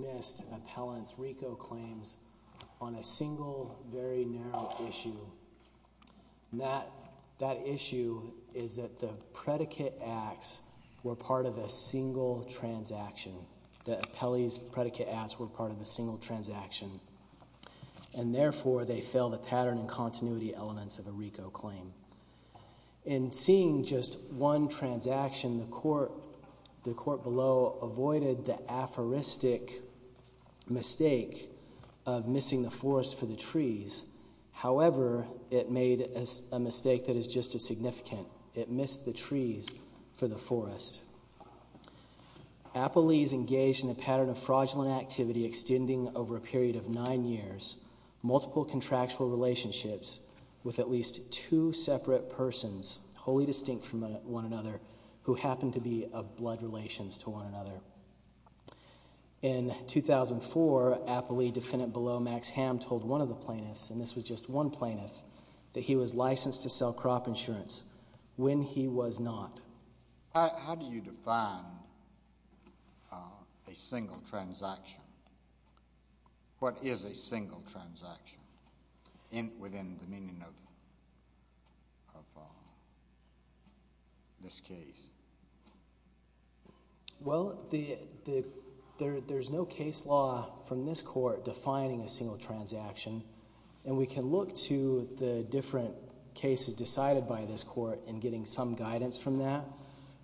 missed appellant's RICO claims on a single, very narrow issue. That issue is that the predicate acts were part of a single transaction. The appellee's predicate acts were part of a single transaction. And therefore, they fell the pattern and continuity elements of a RICO claim. In seeing just one transaction, the court below avoided the aphoristic mistake of missing the forest for the trees. However, it made a mistake that is just as significant. It missed the trees for the forest. Appellee's engaged in a pattern of fraudulent activity extending over a period of nine years, multiple contractual relationships with at least two separate persons wholly distinct from one another who happen to be of blood relations to one another. In 2004, appellee defendant below Max Ham told one of the plaintiffs, and this was just one plaintiff, that he was licensed to sell crop insurance when he was not. How do you define a single transaction? What is a single transaction within the meaning of this case? Well, there's no case law from this court defining a single transaction. And we can look to the different cases decided by this court in getting some guidance from that.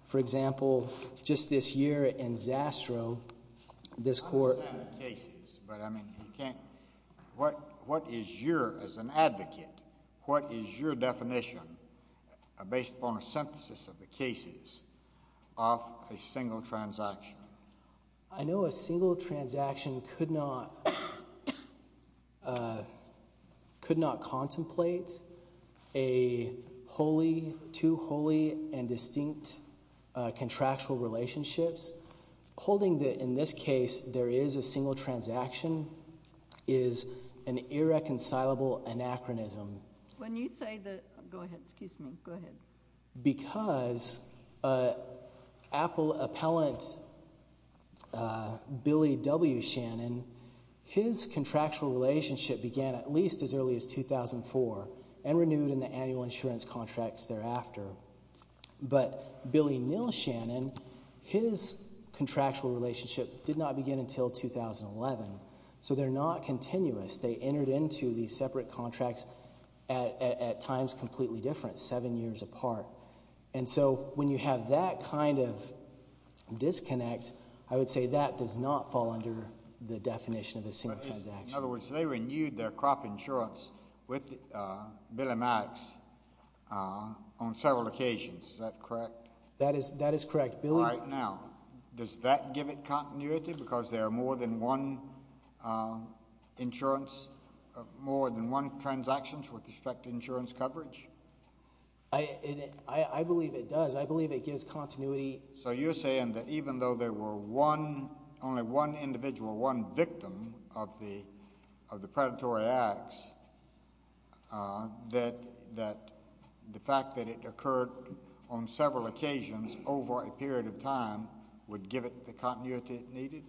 For example, just this year in Zastro, this court- I understand the cases, but I mean, you can't, what is your, as an advocate, what is your definition based upon a synthesis of the cases of a single transaction? I know a single transaction could not contemplate a wholly, two wholly and distinct contractual relationships. Holding that in this case, there is a single transaction is an irreconcilable anachronism. When you say that, go ahead, excuse me, go ahead. Because appellant Billy W. Shannon, his contractual relationship began at least as early as 2004 and renewed in the annual insurance contracts thereafter. But Billy Neal Shannon, his contractual relationship did not begin until 2011. So they're not continuous. They entered into these separate contracts at times completely different, seven years apart. And so when you have that kind of disconnect, I would say that does not fall under the definition of a single transaction. In other words, they renewed their crop insurance with Billy Max on several occasions, is that correct? That is correct. All right, now, does that give it continuity? Because there are more than one insurance, more than one transactions with respect to insurance coverage? I believe it does. I believe it gives continuity. So you're saying that even though there were one, only one individual, one victim of the predatory acts, that the fact that it occurred on several occasions over a period of time would give it the continuity it needed?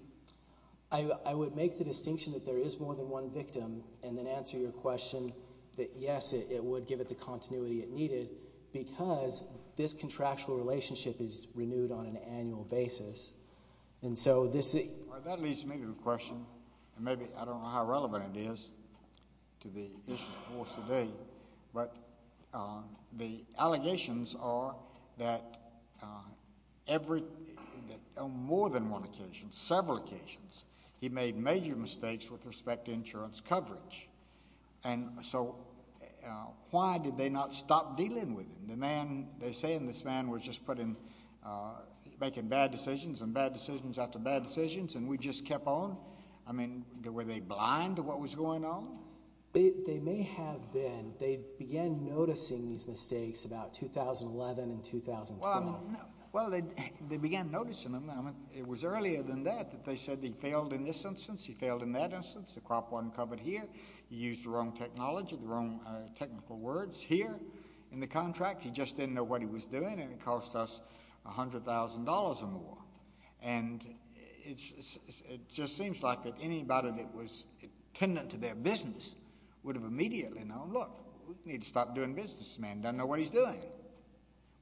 I would make the distinction that there is more than one victim and then answer your question that, yes, it would give it the continuity it needed because this contractual relationship is renewed on an annual basis. And so this is- That leads me to the question, and maybe I don't know how relevant it is to the issues for us today, but the allegations are that on more than one occasion, several occasions, he made major mistakes with respect to insurance coverage. And so why did they not stop dealing with him? The man, they're saying this man was just making bad decisions and bad decisions after bad decisions and we just kept on? I mean, were they blind to what was going on? They may have been. They began noticing these mistakes about 2011 and 2012. Well, they began noticing them. It was earlier than that that they said he failed in this instance, he failed in that instance. The crop wasn't covered here. He used the wrong technology, the wrong technical words. Here in the contract, he just didn't know what he was doing and it cost us $100,000 or more. And it just seems like that anybody that was attendant to their business would have immediately known, look, we need to stop doing business. This man doesn't know what he's doing.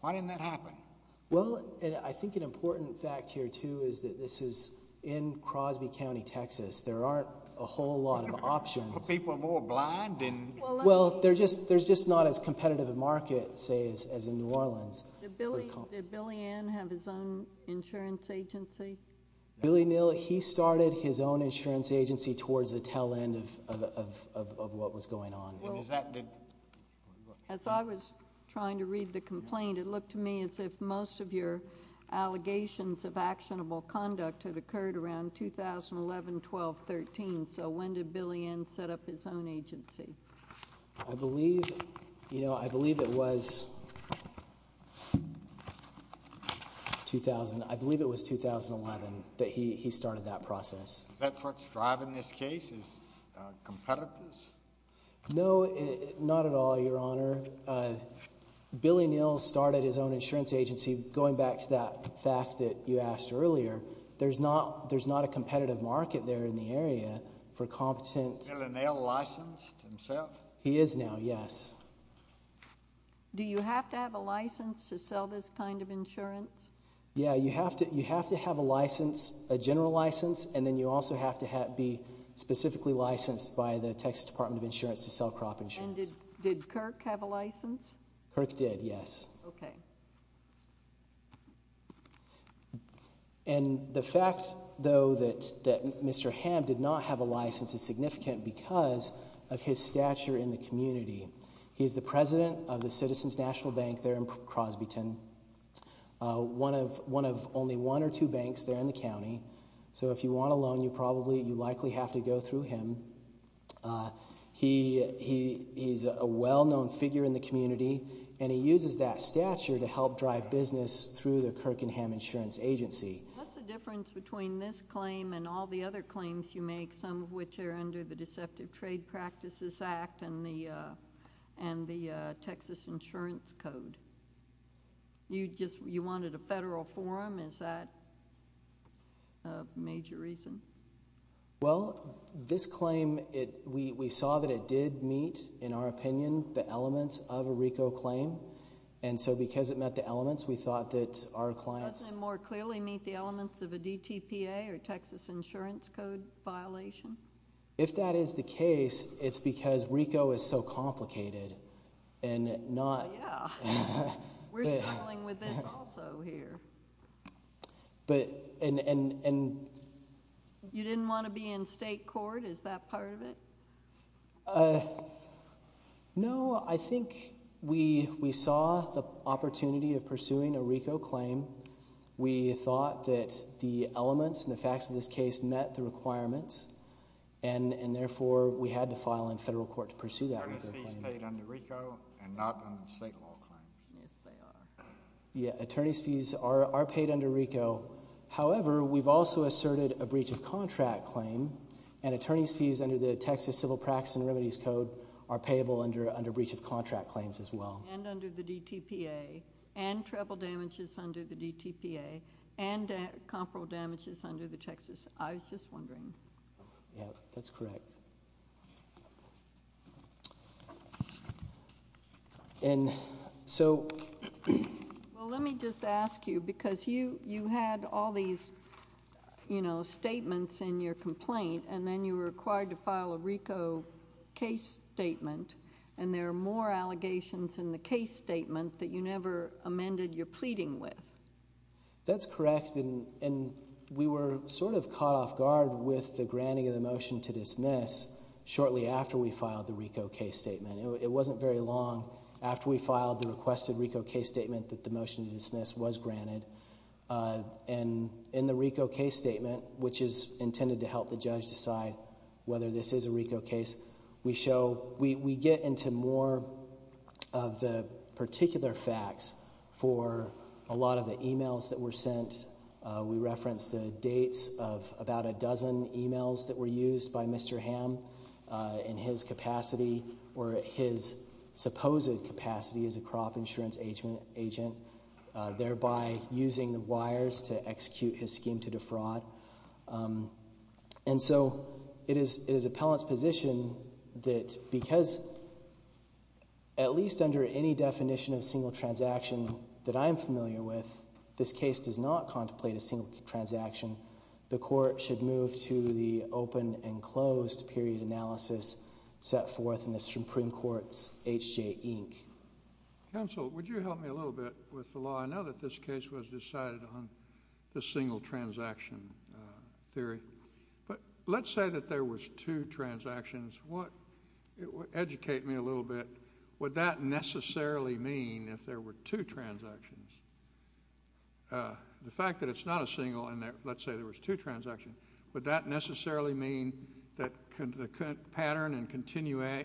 Why didn't that happen? Well, I think an important fact here, too, is that this is in Crosby County, Texas. There aren't a whole lot of options. People are more blind and- Well, there's just not as competitive a market, say, as in New Orleans. Did Billy Ann have his own insurance agency? Billy Neil, he started his own insurance agency towards the tail end of what was going on. Well, as I was trying to read the complaint, it looked to me as if most of your allegations of actionable conduct had occurred around 2011, 12, 13. So when did Billy Ann set up his own agency? I believe it was 2011 that he started that process. Is that what's driving this case, is competitors? No, not at all, Your Honor. Billy Neil started his own insurance agency, going back to that fact that you asked earlier. There's not a competitive market there in the area for competent- Is Billy Neil licensed himself? He is now, yes. Do you have to have a license to sell this kind of insurance? Yeah, you have to have a license, a general license, and then you also have to be specifically licensed by the Texas Department of Insurance to sell crop insurance. Did Kirk have a license? Kirk did, yes. Okay. And the fact, though, that Mr. Hamm did not have a license is significant because of his stature in the community. He is the president of the Citizens National Bank there in Crosbyton, one of only one or two banks there in the county. So if you want a loan, you likely have to go through him. He's a well-known figure in the community, and he uses that stature to help drive business through the Kirkenham Insurance Agency. What's the difference between this claim and all the other claims you make, some of which are under the Deceptive Trade Practices Act and the Texas Insurance Code? You wanted a federal forum, is that a major reason? Well, this claim, we saw that it did meet, in our opinion, the elements of a RICO claim. And so because it met the elements, we thought that our clients— Doesn't it more clearly meet the elements of a DTPA or Texas Insurance Code violation? If that is the case, it's because RICO is so complicated and not— Oh, yeah. We're struggling with this also here. But— You didn't want to be in state court, is that part of it? No, I think we saw the opportunity of pursuing a RICO claim. We thought that the elements and the facts of this case met the requirements. And therefore, we had to file in federal court to pursue that RICO claim. Attorneys' fees paid under RICO and not under state law claims. Yes, they are. Yeah, attorneys' fees are paid under RICO. However, we've also asserted a breach of contract claim. And attorneys' fees under the Texas Civil Practices and Remedies Code are payable under breach of contract claims as well. And under the DTPA. And treble damages under the DTPA. And comparable damages under the Texas—I was just wondering. Yeah, that's correct. And so— Well, let me just ask you. Because you had all these, you know, statements in your complaint. And then you were required to file a RICO case statement. And there are more allegations in the case statement that you never amended your pleading with. That's correct. And we were sort of caught off guard with the granting of the motion to dismiss shortly after we filed the RICO case statement. It wasn't very long after we filed the requested RICO case statement that the motion to dismiss was granted. And in the RICO case statement, which is intended to help the judge decide whether this is a RICO case, we show—we get into more of the particular facts for a lot of the emails that were sent. We reference the dates of about a dozen emails that were used by Mr. Hamm in his capacity. Or his supposed capacity as a crop insurance agent, thereby using the wires to execute his scheme to defraud. And so it is appellant's position that because— at least under any definition of single transaction that I'm familiar with, this case does not contemplate a single transaction. The court should move to the open and closed period analysis set forth in the Supreme Court's H.J. Inc. Counsel, would you help me a little bit with the law? I know that this case was decided on the single transaction theory. But let's say that there was two transactions. Educate me a little bit. Would that necessarily mean, if there were two transactions, the fact that it's not a single and let's say there was two transactions, would that necessarily mean that the pattern and continuity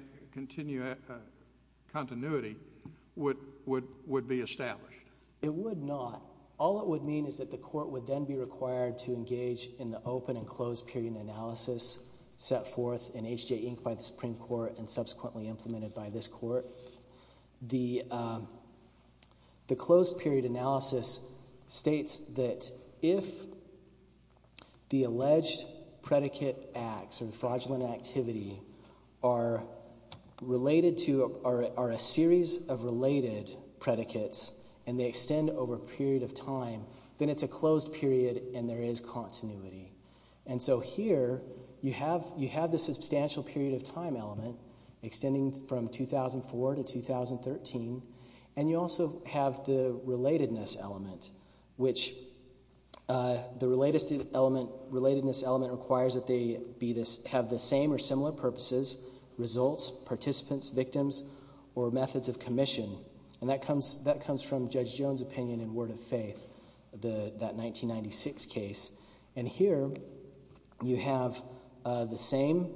would be established? It would not. All it would mean is that the court would then be required to engage in the open and closed period analysis set forth in H.J. Inc. by the Supreme Court and subsequently implemented by this court. The closed period analysis states that if the alleged predicate acts or fraudulent activity are a series of related predicates and they extend over a period of time, then it's a closed period and there is continuity. And so here, you have the substantial period of time element extending from 2004 to 2013 and you also have the relatedness element, which the relatedness element requires that they have the same or similar purposes, results, participants, victims, or methods of commission. And that comes from Judge Jones' opinion in Word of Faith, that 1996 case. And here, you have the same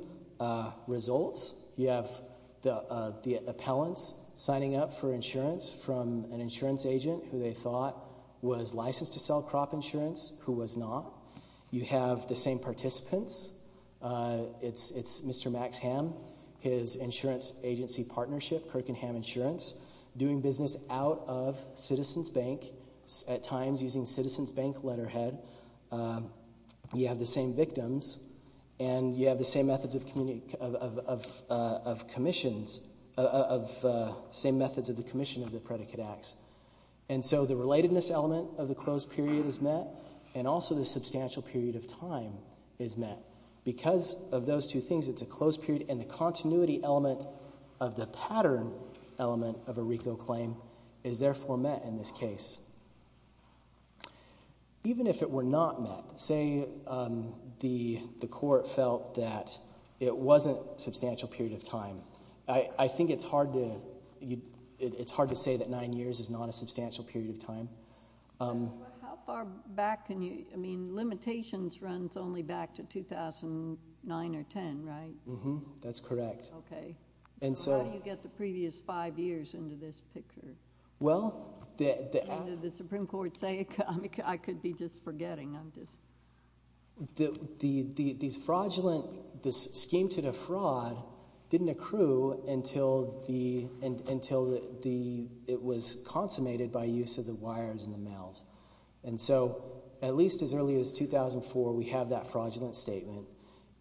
results. You have the appellants signing up for insurance from an insurance agent who they thought was licensed to sell crop insurance, who was not. You have the same participants. It's Mr. Max Ham, his insurance agency partnership, Kirkenham Insurance, doing business out of Citizens Bank, at times using Citizens Bank letterhead. You have the same victims and you have the same methods of commission of the predicate acts. And so the relatedness element of the closed period is met and also the substantial period of time is met. Because of those two things, it's a closed period and the continuity element of the pattern element of a RICO claim is therefore met in this case. Even if it were not met, say the court felt that it wasn't a substantial period of time, I think it's hard to say that nine years is not a substantial period of time. How far back can you—I mean, limitations runs only back to 2009 or 10, right? That's correct. Okay. How do you get the previous five years into this picture? Well, the— Did the Supreme Court say it? I could be just forgetting. These fraudulent—this scheme to defraud didn't accrue until it was consummated by use of the wires and the mails. And so at least as early as 2004, we have that fraudulent statement.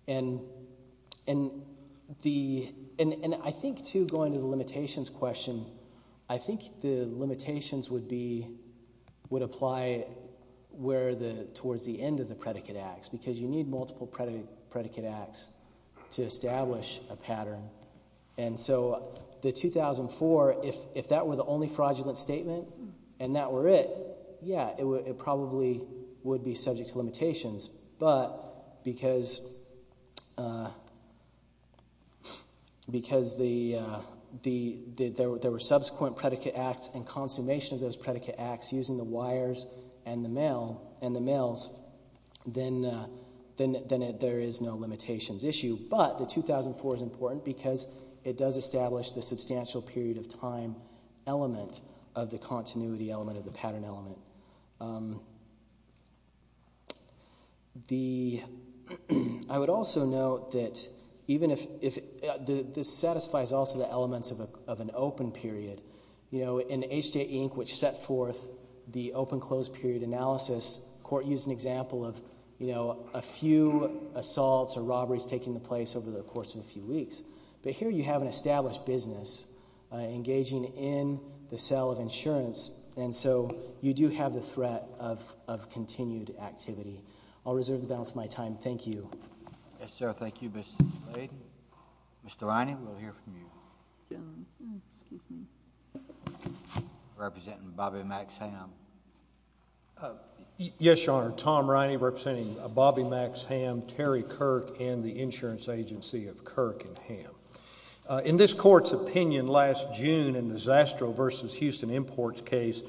And I think, too, going to the limitations question, I think the limitations would be—would apply where the—towards the end of the predicate acts because you need multiple predicate acts to establish a pattern. And so the 2004, if that were the only fraudulent statement and that were it, yeah, it probably would be subject to limitations. But because there were subsequent predicate acts and consummation of those predicate acts using the wires and the mails, then there is no limitations issue. But the 2004 is important because it does establish the substantial period of time element of the continuity element of the pattern element. The—I would also note that even if— this satisfies also the elements of an open period. You know, in H.J. Inc., which set forth the open-closed period analysis, court used an example of, you know, a few assaults or robberies taking place over the course of a few weeks. But here you have an established business engaging in the sale of insurance. And so you do have the threat of continued activity. I'll reserve the balance of my time. Thank you. Yes, sir. Thank you, Mr. Slade. Mr. Riney, we'll hear from you. Representing Bobby Max Ham. Yes, Your Honor. Tom Riney representing Bobby Max Ham, Terry Kirk, and the insurance agency of Kirk and Ham. In this court's opinion last June in the Zastro v. Houston Imports case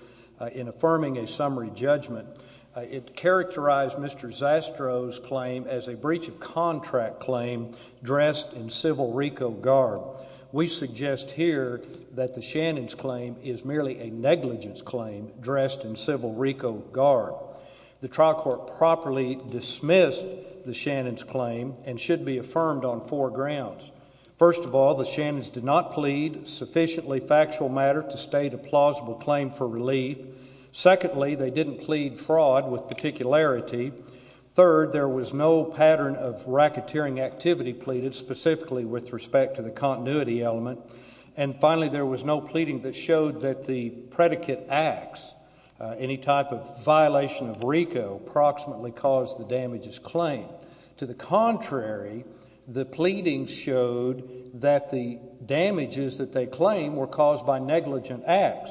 in affirming a summary judgment, it characterized Mr. Zastro's claim as a breach of contract claim dressed in civil RICO garb. We suggest here that the Shannons' claim is merely a negligence claim dressed in civil RICO garb. The trial court properly dismissed the Shannons' claim and should be affirmed on four grounds. First of all, the Shannons did not plead sufficiently factual matter to state a plausible claim for relief. Secondly, they didn't plead fraud with particularity. Third, there was no pattern of racketeering activity pleaded specifically with respect to the continuity element. And finally, there was no pleading that showed that the predicate acts, any type of violation of RICO, approximately caused the damages claim. To the contrary, the pleading showed that the damages that they claim were caused by negligent acts.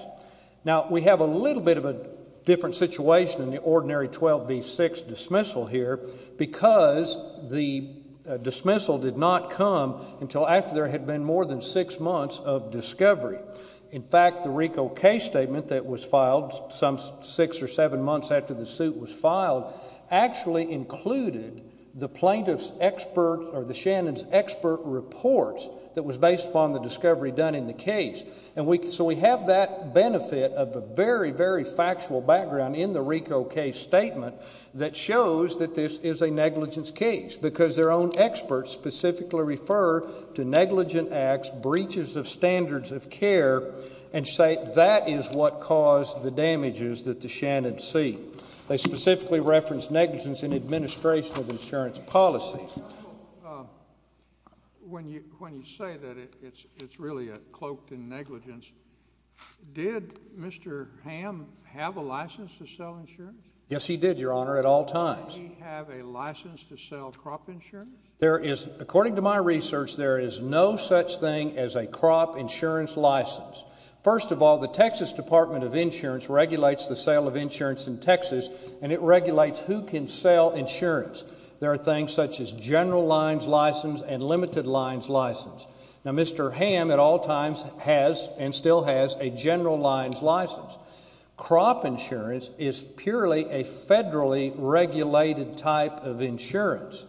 Now, we have a little bit of a different situation in the ordinary 12 v. 6 dismissal here because the dismissal did not come until after there had been more than six months of discovery. In fact, the RICO case statement that was filed some six or seven months after the suit was filed actually included the plaintiff's expert or the Shannons' expert reports that was based upon the discovery done in the case. So we have that benefit of a very, very factual background in the RICO case statement that shows that this is a negligence case because their own experts specifically refer to negligent acts, breaches of standards of care, and say that is what caused the damages that the Shannons see. They specifically reference negligence in administration of insurance policies. When you say that it's really cloaked in negligence, did Mr. Hamm have a license to sell insurance? Yes, he did, Your Honor, at all times. Did he have a license to sell crop insurance? According to my research, there is no such thing as a crop insurance license. First of all, the Texas Department of Insurance regulates the sale of insurance in Texas and it regulates who can sell insurance. There are things such as general lines license and limited lines license. Now, Mr. Hamm at all times has and still has a general lines license. Crop insurance is purely a federally regulated type of insurance.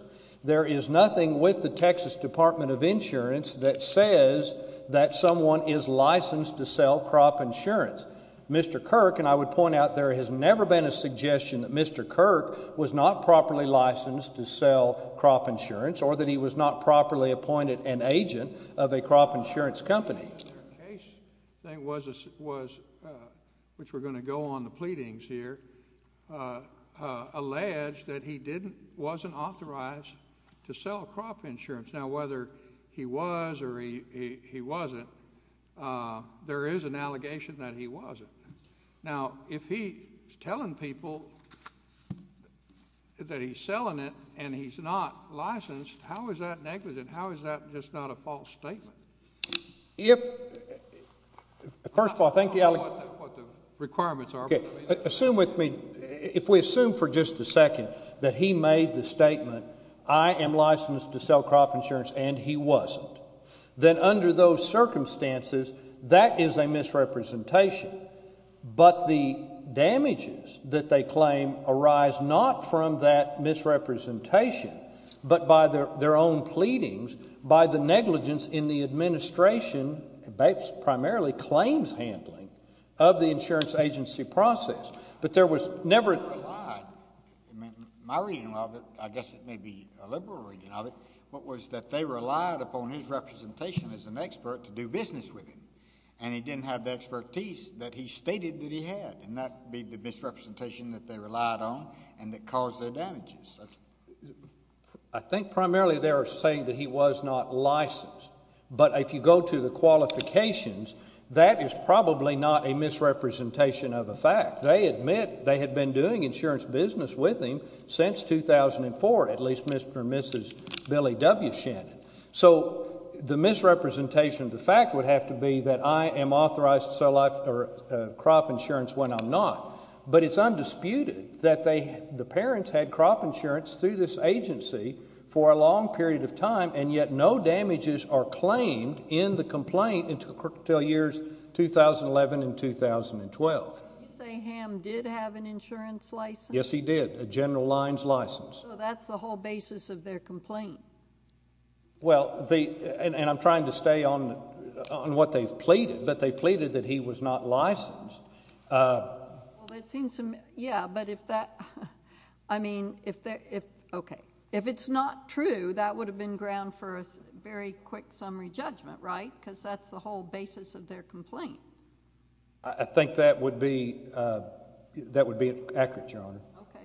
There is nothing with the Texas Department of Insurance that says that someone is licensed to sell crop insurance. Mr. Kirk, and I would point out there has never been a suggestion that Mr. Kirk was not properly licensed to sell crop insurance or that he was not properly appointed an agent of a crop insurance company. The case was, which we're going to go on the pleadings here, alleged that he wasn't authorized to sell crop insurance. Now, whether he was or he wasn't, there is an allegation that he wasn't. Now, if he's telling people that he's selling it and he's not licensed, how is that negligent? How is that just not a false statement? If, first of all, thank you. Assume with me, if we assume for just a second that he made the statement, I am licensed to sell crop insurance and he wasn't, then under those circumstances, that is a misrepresentation. But the damages that they claim arise not from that misrepresentation, but by their own pleadings, by the negligence in the administration, primarily claims handling, of the insurance agency process. But there was never... My reading of it, I guess it may be a liberal reading of it, was that they relied upon his representation as an expert to do business with him and he didn't have the expertise that he stated that he had and that would be the misrepresentation that they relied on and that caused their damages. I think primarily they are saying that he was not licensed. But if you go to the qualifications, that is probably not a misrepresentation of a fact. They admit they had been doing insurance business with him since 2004, at least Mr. and Mrs. Billy W. Shannon. So the misrepresentation of the fact would have to be that I am authorized to sell crop insurance when I'm not. But it's undisputed that the parents had crop insurance through this agency for a long period of time and yet no damages are claimed in the complaint until years 2011 and 2012. Did you say Ham did have an insurance license? Yes, he did. A General Lines license. So that's the whole basis of their complaint. Well, and I'm trying to stay on what they've pleaded, but they've pleaded that he was not licensed. Well, it seems to me, yeah, but if that, I mean, if that, if, okay. If it's not true, that would have been ground for a very quick summary judgment, right? Because that's the whole basis of their complaint. I think that would be, that would be accurate, Your Honor. Okay.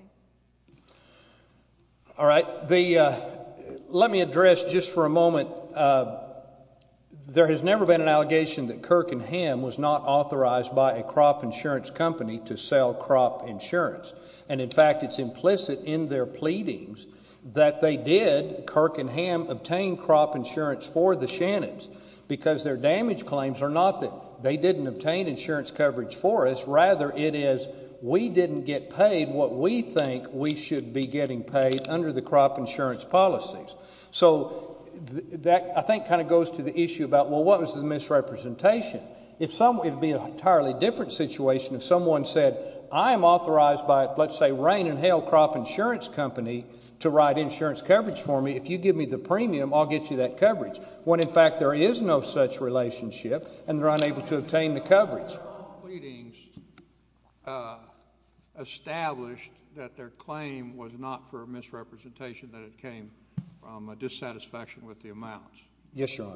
All right, the, let me address just for a moment, there has never been an allegation that Kirk and Ham was not authorized by a crop insurance company to sell crop insurance. And, in fact, it's implicit in their pleadings that they did, Kirk and Ham, obtain crop insurance for the Shannons because their damage claims are not that they didn't obtain insurance coverage for us, rather it is we didn't get paid what we think we should be getting paid under the crop insurance policies. So that, I think, kind of goes to the issue about, well, what was the misrepresentation? If someone, it would be an entirely different situation if someone said, I am authorized by, let's say, Rain and Hail Crop Insurance Company to write insurance coverage for me. If you give me the premium, I'll get you that coverage. When, in fact, there is no such relationship and they're unable to obtain the coverage. All the pleadings established that their claim was not for a misrepresentation that it came from a dissatisfaction with the amounts. Yes, Your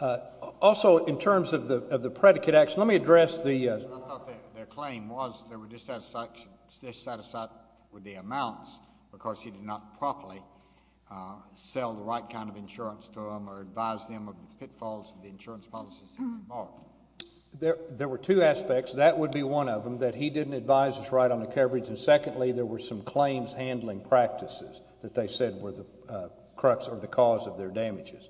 Honor. Also, in terms of the predicate action, let me address the... I thought their claim was they were dissatisfied with the amounts because he did not properly sell the right kind of insurance to them or advise them of the pitfalls of the insurance policies involved. There were two aspects. That would be one of them, that he didn't advise us right on the coverage, and secondly, there were some claims handling practices that they said were the crux or the cause of their damages.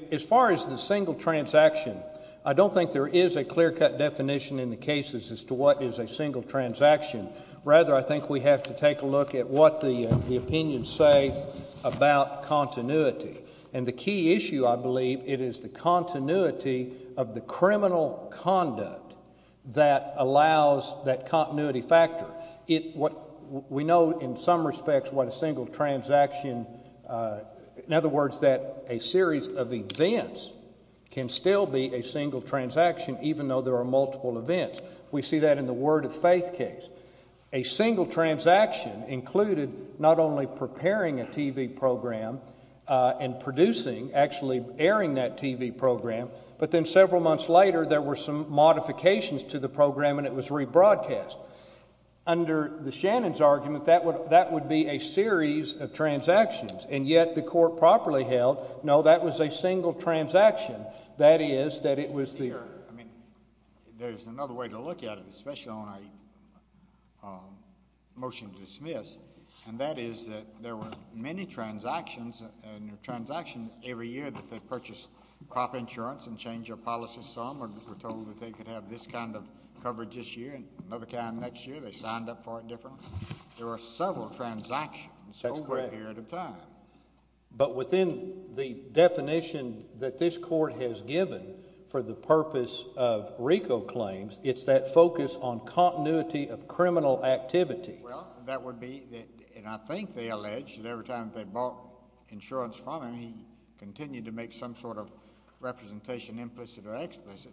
As far as the single transaction, I don't think there is a clear-cut definition in the cases as to what is a single transaction. Rather, I think we have to take a look at what the opinions say about continuity. And the key issue, I believe, it is the continuity of the criminal conduct that allows that continuity factor. We know in some respects what a single transaction... In other words, that a series of events can still be a single transaction, even though there are multiple events. We see that in the Word of Faith case. A single transaction included not only preparing a TV program and producing, actually airing that TV program, but then several months later, there were some modifications to the program, and it was rebroadcast. Under the Shannon's argument, that would be a series of transactions, and yet the court properly held, no, that was a single transaction. That is, that it was the... I mean, there's another way to look at it, especially on a motion to dismiss, and that is that there were many transactions, and there are transactions every year that they purchased crop insurance and changed their policies some, or were told that they could have this kind of coverage this year and another kind next year. They signed up for it differently. There are several transactions over a period of time. But within the definition that this court has given for the purpose of RICO claims, it's that focus on continuity of criminal activity. Well, that would be, and I think they allege, that every time they bought insurance from him, he continued to make some sort of representation, implicit or explicit,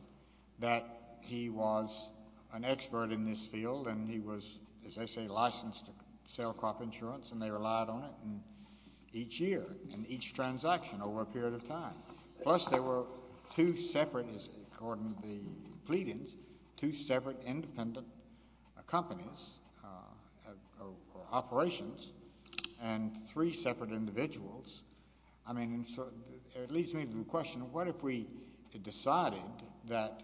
that he was an expert in this field and he was, as they say, licensed to sell crop insurance and they relied on it each year in each transaction over a period of time. Plus, there were two separate, according to the pleadings, two separate independent companies, or operations, and three separate individuals. I mean, it leads me to the question, what if we decided that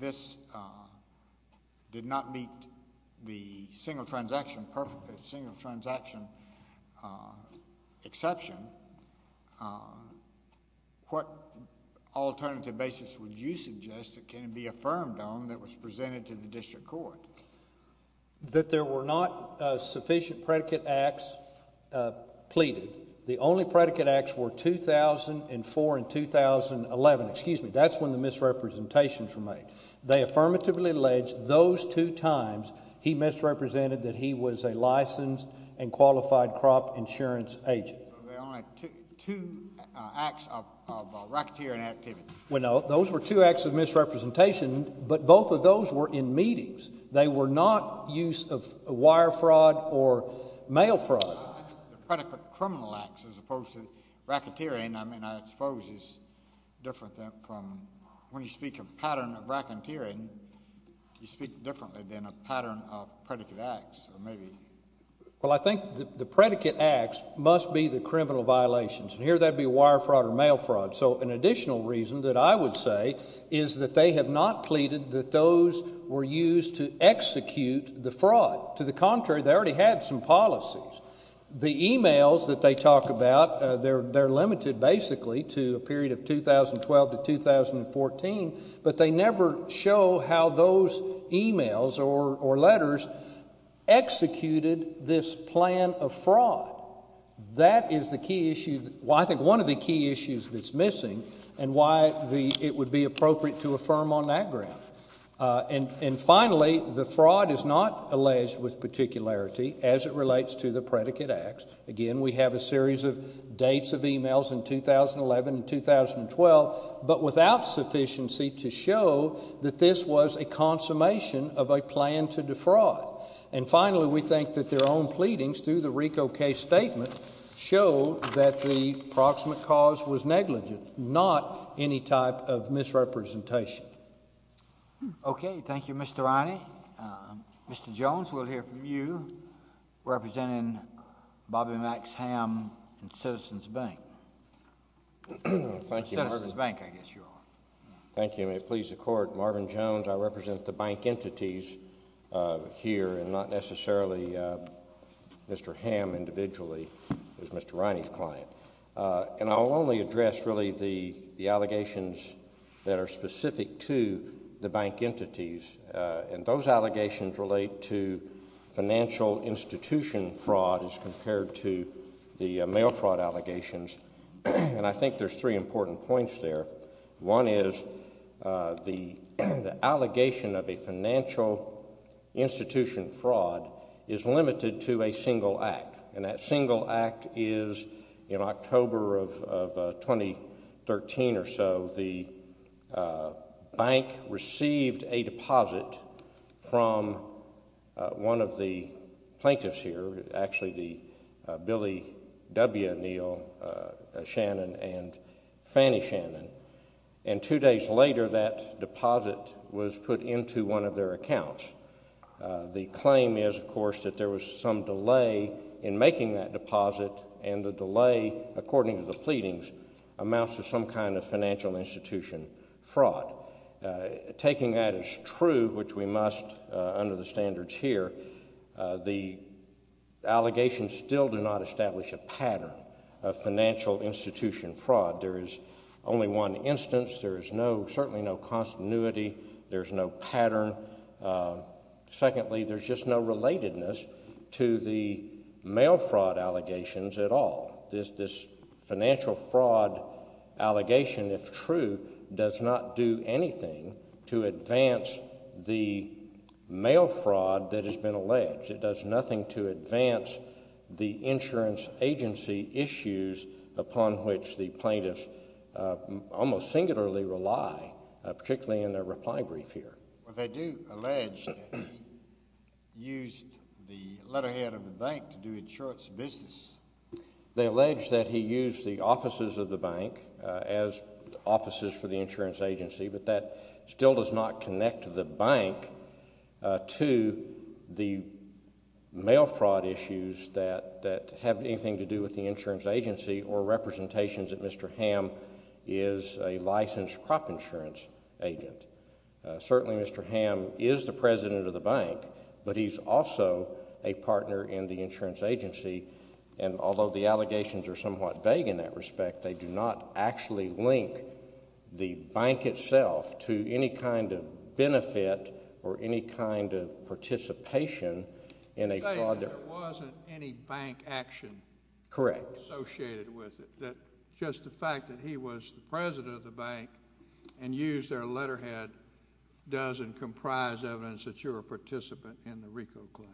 this did not meet the single transaction, single transaction exception, what alternative basis would you suggest that can it be affirmed on that was presented to the district court? That there were not sufficient predicate acts pleaded. The only predicate acts were 2004 and 2011. Excuse me, that's when the misrepresentations were made. They affirmatively alleged those two times he misrepresented that he was a licensed and qualified crop insurance agent. So there were only two acts of racketeering activity. Well, no, those were two acts of misrepresentation, but both of those were in meetings. They were not use of wire fraud or mail fraud. The predicate criminal acts as opposed to racketeering, I mean, I suppose is different from, when you speak of pattern of racketeering, you speak differently than a pattern of predicate acts, maybe. Well, I think the predicate acts must be the criminal violations. Here, that'd be wire fraud or mail fraud. So an additional reason that I would say is that they have not pleaded that those were used to execute the fraud. To the contrary, they already had some policies. The emails that they talk about, they're limited, basically, to a period of 2012 to 2014, but they never show how those emails or letters executed this plan of fraud. That is the key issue, well, I think one of the key issues that's missing and why it would be appropriate to affirm on that ground. And finally, the fraud is not alleged with particularity as it relates to the predicate acts. Again, we have a series of dates of emails in 2011 and 2012, but without sufficiency to show that this was a consummation of a plan to defraud. And finally, we think that their own pleadings through the RICO case statement show that the proximate cause was negligent, not any type of misrepresentation. Okay. Thank you, Mr. Riney. Mr. Jones, we'll hear from you. Representing Bobby Max Ham and Citizens Bank. Citizens Bank, I guess you are. Thank you. May it please the Court, Marvin Jones, I represent the bank entities here and not necessarily Mr. Ham individually, as Mr. Riney's client. And I'll only address, really, the allegations that are specific to the bank entities. And those allegations relate to financial institution fraud as compared to the mail fraud allegations. And I think there's three important points there. One is the allegation of a financial institution fraud is limited to a single act. And that single act is in October of 2013 or so, the bank received a deposit from one of the plaintiffs here, actually the Billy W. Neal Shannon and Fannie Shannon. And two days later that deposit was put into one of their accounts. The claim is, of course, that there was some delay in making that deposit. And the delay according to the pleadings amounts to some kind of financial institution fraud. Taking that as true, which we must under the standards here, the allegations still do not establish a pattern of financial institution fraud. There is only one instance. There is certainly no continuity. There's no pattern. Secondly, there's just no relatedness to the mail fraud allegations at all. This financial fraud allegation, if true, does not do anything to advance the mail fraud that has been alleged. It does nothing to advance the insurance agency issues upon which the plaintiffs almost singularly rely, particularly in their reply brief here. They do allege that he used the letterhead of the bank to do insurance business. They allege that he used the offices of the bank as offices for the insurance agency, but that still does not connect the bank to the mail fraud issues that have anything to do with the insurance agency or representations that Mr. Hamm is a licensed crop insurance agent. Certainly Mr. Hamm is the president of the bank, but he's also a partner in the insurance agency, and although the allegations are somewhat vague in that respect, they do not actually link the bank itself to any kind of benefit or any kind of participation in a fraud. You're saying there wasn't any bank action associated with it, that just the fact that he was the president of the bank and used their letterhead does and comprise evidence that you're a participant in the RICO claim.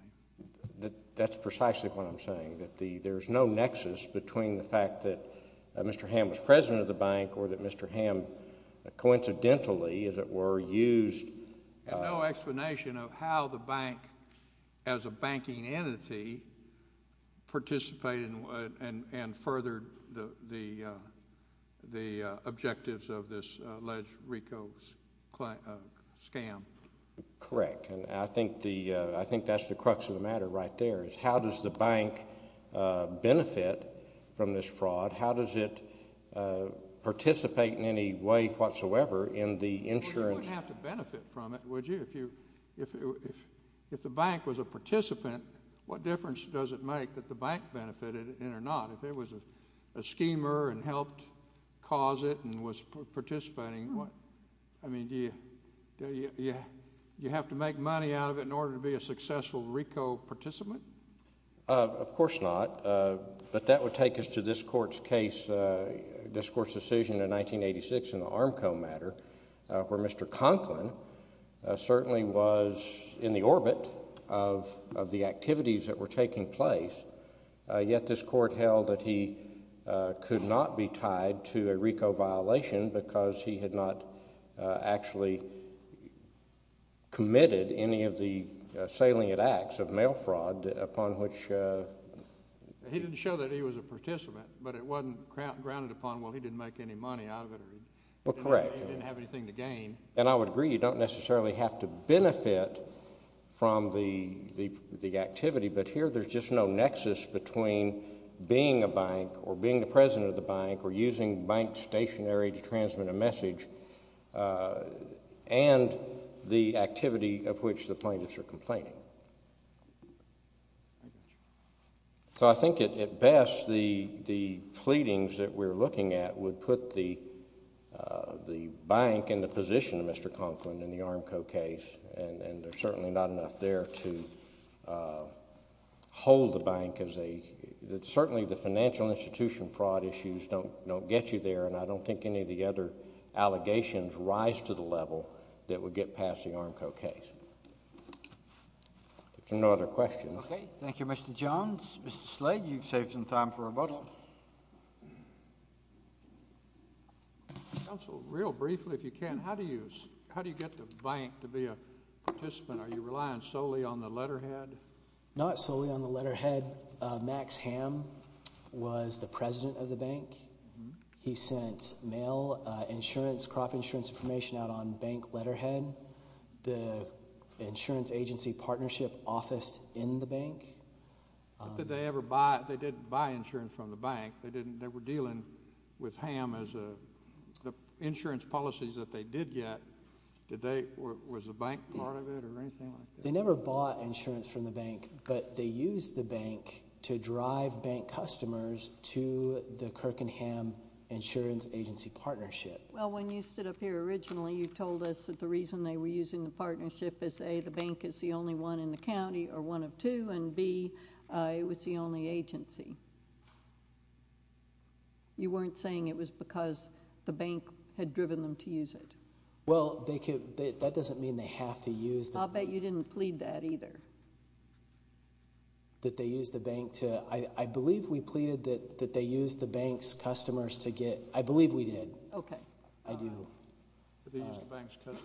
That's precisely what I'm saying, that there's no nexus between the fact that Mr. Hamm was president of the bank or that Mr. Hamm coincidentally, as it were, used No explanation of how the bank as a banking entity participated and furthered the objectives of this alleged RICO scam. Correct, and I think that's the crux of the matter right there is how does the bank benefit from this fraud? How does it participate in any way whatsoever in the insurance? Well, you wouldn't have to benefit from it, would you? If the bank was a participant, what difference does it make that the bank benefited in it or not? If it was a schemer and helped cause it and was participating, do you have to make money out of it in order to be a beneficiary? Of course not, but that would take us to this court's case, this court's decision in 1986 in the Armco matter where Mr. Conklin certainly was in the orbit of the activities that were taking place yet this court held that he could not be tied to a RICO violation because he had not actually committed any of the violent acts of mail fraud upon which He didn't show that he was a participant, but it wasn't grounded upon, well, he didn't make any money out of it. Well, correct. He didn't have anything to gain. And I would agree, you don't necessarily have to benefit from the activity, but here there's just no nexus between being a bank or being the president of the bank or using bank stationary to transmit a message and the So I think at best the pleadings that we're looking at would put the bank in the position of Mr. Conklin in the Armco case and there's certainly not enough there to hold the bank as a certainly the financial institution fraud issues don't get you there and I don't think any of the other allegations rise to the level that would get past the Armco case. If there are no other questions. Okay. Thank you, Mr. Jones. Mr. Slade, you've saved some time for a vote. Counsel, real briefly, if you can, how do you get the bank to be a participant? Are you relying solely on the letterhead? Not solely on the letterhead. Max Hamm was the president of the bank. He sent mail, insurance, crop insurance information out on bank letterhead. The insurance agency partnership office in the bank. Did they ever buy, they didn't buy insurance from the bank. They didn't, they were dealing with Hamm as a insurance policies that they did get. Did they, was the bank part of it or anything like that? They never bought insurance from the bank, but they used the bank to drive bank customers to the Kirk and Hamm insurance agency partnership. Well, when you stood up here originally, you told us that the reason they were using the partnership is A, the bank is the only one in the county, or one of two, and B, it was the only agency. You weren't saying it was because the bank had driven them to use it. Well, they could, that doesn't mean they have to use the bank. I'll bet you didn't plead that either. That they used the bank to, I believe we pleaded that they used the bank's customers to get, I believe we did. Okay. I do.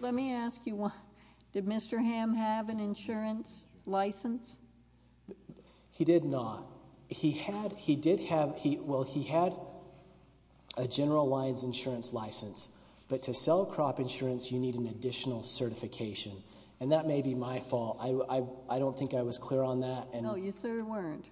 Let me ask you, did Mr. Hamm have an insurance license? He did not. He had, he did have, well, he had a general lines insurance license, but to sell crop insurance, you need an additional certification, and that may be my fault. I don't think I was clear on that. No, you certainly weren't.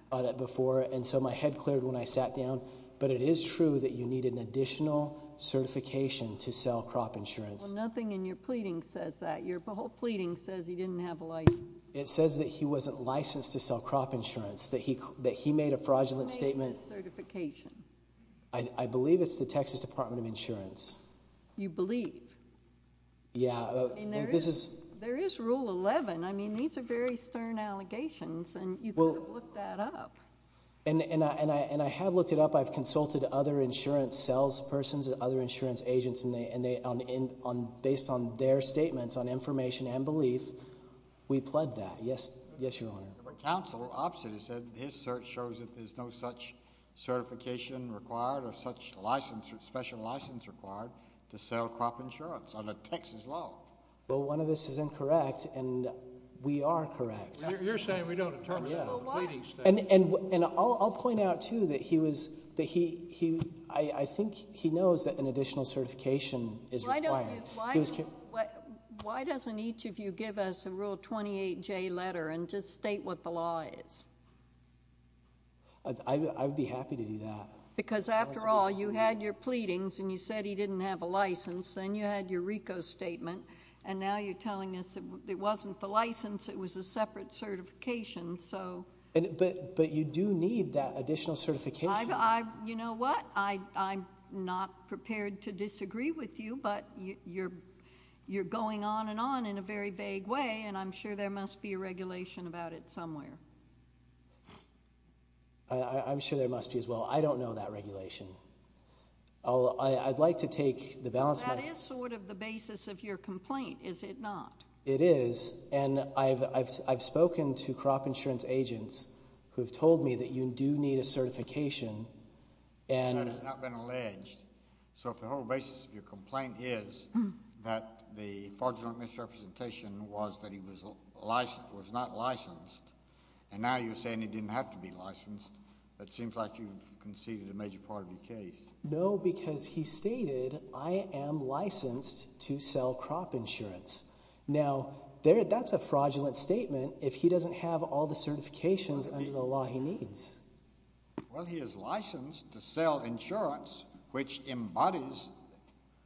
And so my head cleared when I sat down, but it is true that you need an additional certification to sell crop insurance. Well, nothing in your pleading says that. Your whole pleading says he didn't have a license. It says that he wasn't licensed to sell crop insurance, that he made a fraudulent statement. What makes it certification? I believe it's the Texas Department of Insurance. You believe? Yeah. There is Rule 11. I mean, these are very stern allegations, and you could have looked that up. And I have looked it up. I've consulted other insurance sales persons and other insurance agents, and based on their statements on information and belief, we pled that. Yes, Your Honor. But counsel, opposite, has said that his search shows that there's no such certification required or such special license required to sell crop insurance under Texas law. Well, one of this is incorrect, and we are correct. You're saying we don't attorney. And I'll point out too that he was, I think he knows that an additional certification is required. Why don't you, why doesn't each of you give us a Rule 28J letter and just state what the law is? I would be happy to do that. Because after all, you had your pleadings, and you said he didn't have a license. Then you had your RICO statement, and now you're telling us it wasn't the license, it was a separate certification. But you do need that additional certification. You know what? I'm not prepared to disagree with you, but you're going on and on in a very vague way, and I'm sure there must be a regulation about it somewhere. I'm sure there must be as well. I don't know that regulation. I'd like to take the balance. That is sort of the basis of your complaint, is it not? It is, and I've spoken to crop insurance agents who have told me that you do need a certification. That has not been alleged. So if the whole basis of your complaint is that the fraudulent misrepresentation was that he was not licensed, and now you're saying he didn't have to be licensed, it seems like you've conceded a major part of your case. No, because he stated, I am licensed to sell crop insurance. Now, that's a fraudulent statement if he doesn't have all the certifications under the law he needs. Well, he is licensed to sell insurance which embodies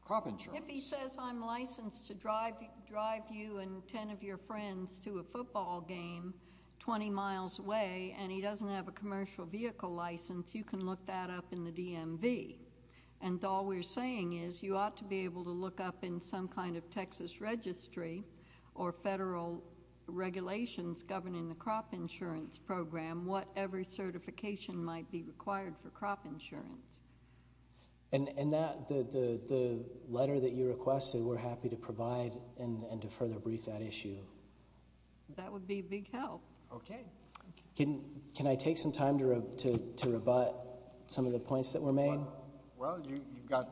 crop insurance. If he says I'm licensed to drive you and 10 of your friends to a football game 20 miles away and he doesn't have a commercial vehicle license, you can look that up in the DMV. And all we're saying is you ought to be able to look up in some kind of Texas registry or federal regulations governing the crop insurance program what every certification might be required for crop insurance. And that, the letter that you requested, we're happy to provide and to further brief that issue. That would be big help. Okay. Can I take some time to rebut some of the points that were made? Well, you've got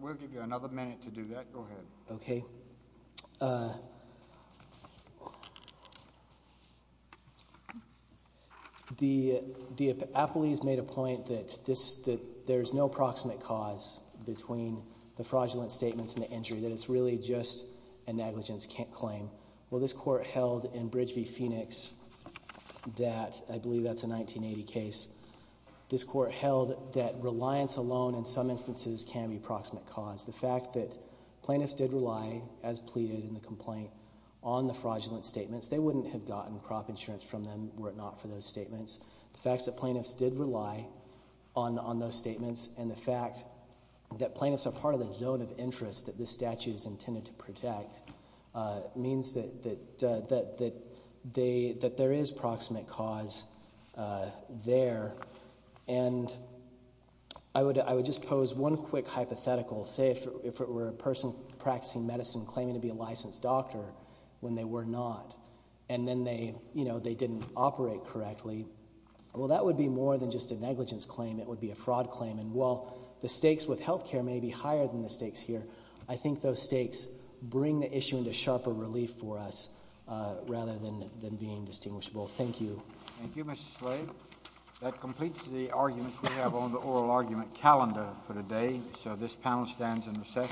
We'll give you another minute to do that. Go ahead. Okay. The appellees made a point that there's no proximate cause between the fraudulent statements and the injury. That it's really just a negligence claim. Well, this court held in Bridge v. Phoenix that I believe that's a 1980 case. This court held that reliance alone in some instances can be proximate cause. The fact that plaintiffs did rely, as pleaded in the complaint, on the fraudulent statements. They wouldn't have gotten crop insurance from them were it not for those statements. The fact that plaintiffs did rely on those statements and the fact that plaintiffs are part of the zone of interest that this statute is intended to protect means that there is proximate cause there. And I would just pose one quick hypothetical. Say if it were a person practicing medicine claiming to be a licensed doctor when they were not and then they didn't operate correctly well that would be more than just a negligence claim it would be a fraud claim. And while the stakes with health care may be higher than the stakes here, I think those stakes bring the issue into sharper relief for us rather than being distinguishable. Thank you. Thank you, Mr. Slade. That completes the arguments we have on the oral argument calendar for today. So this panel stands in recess.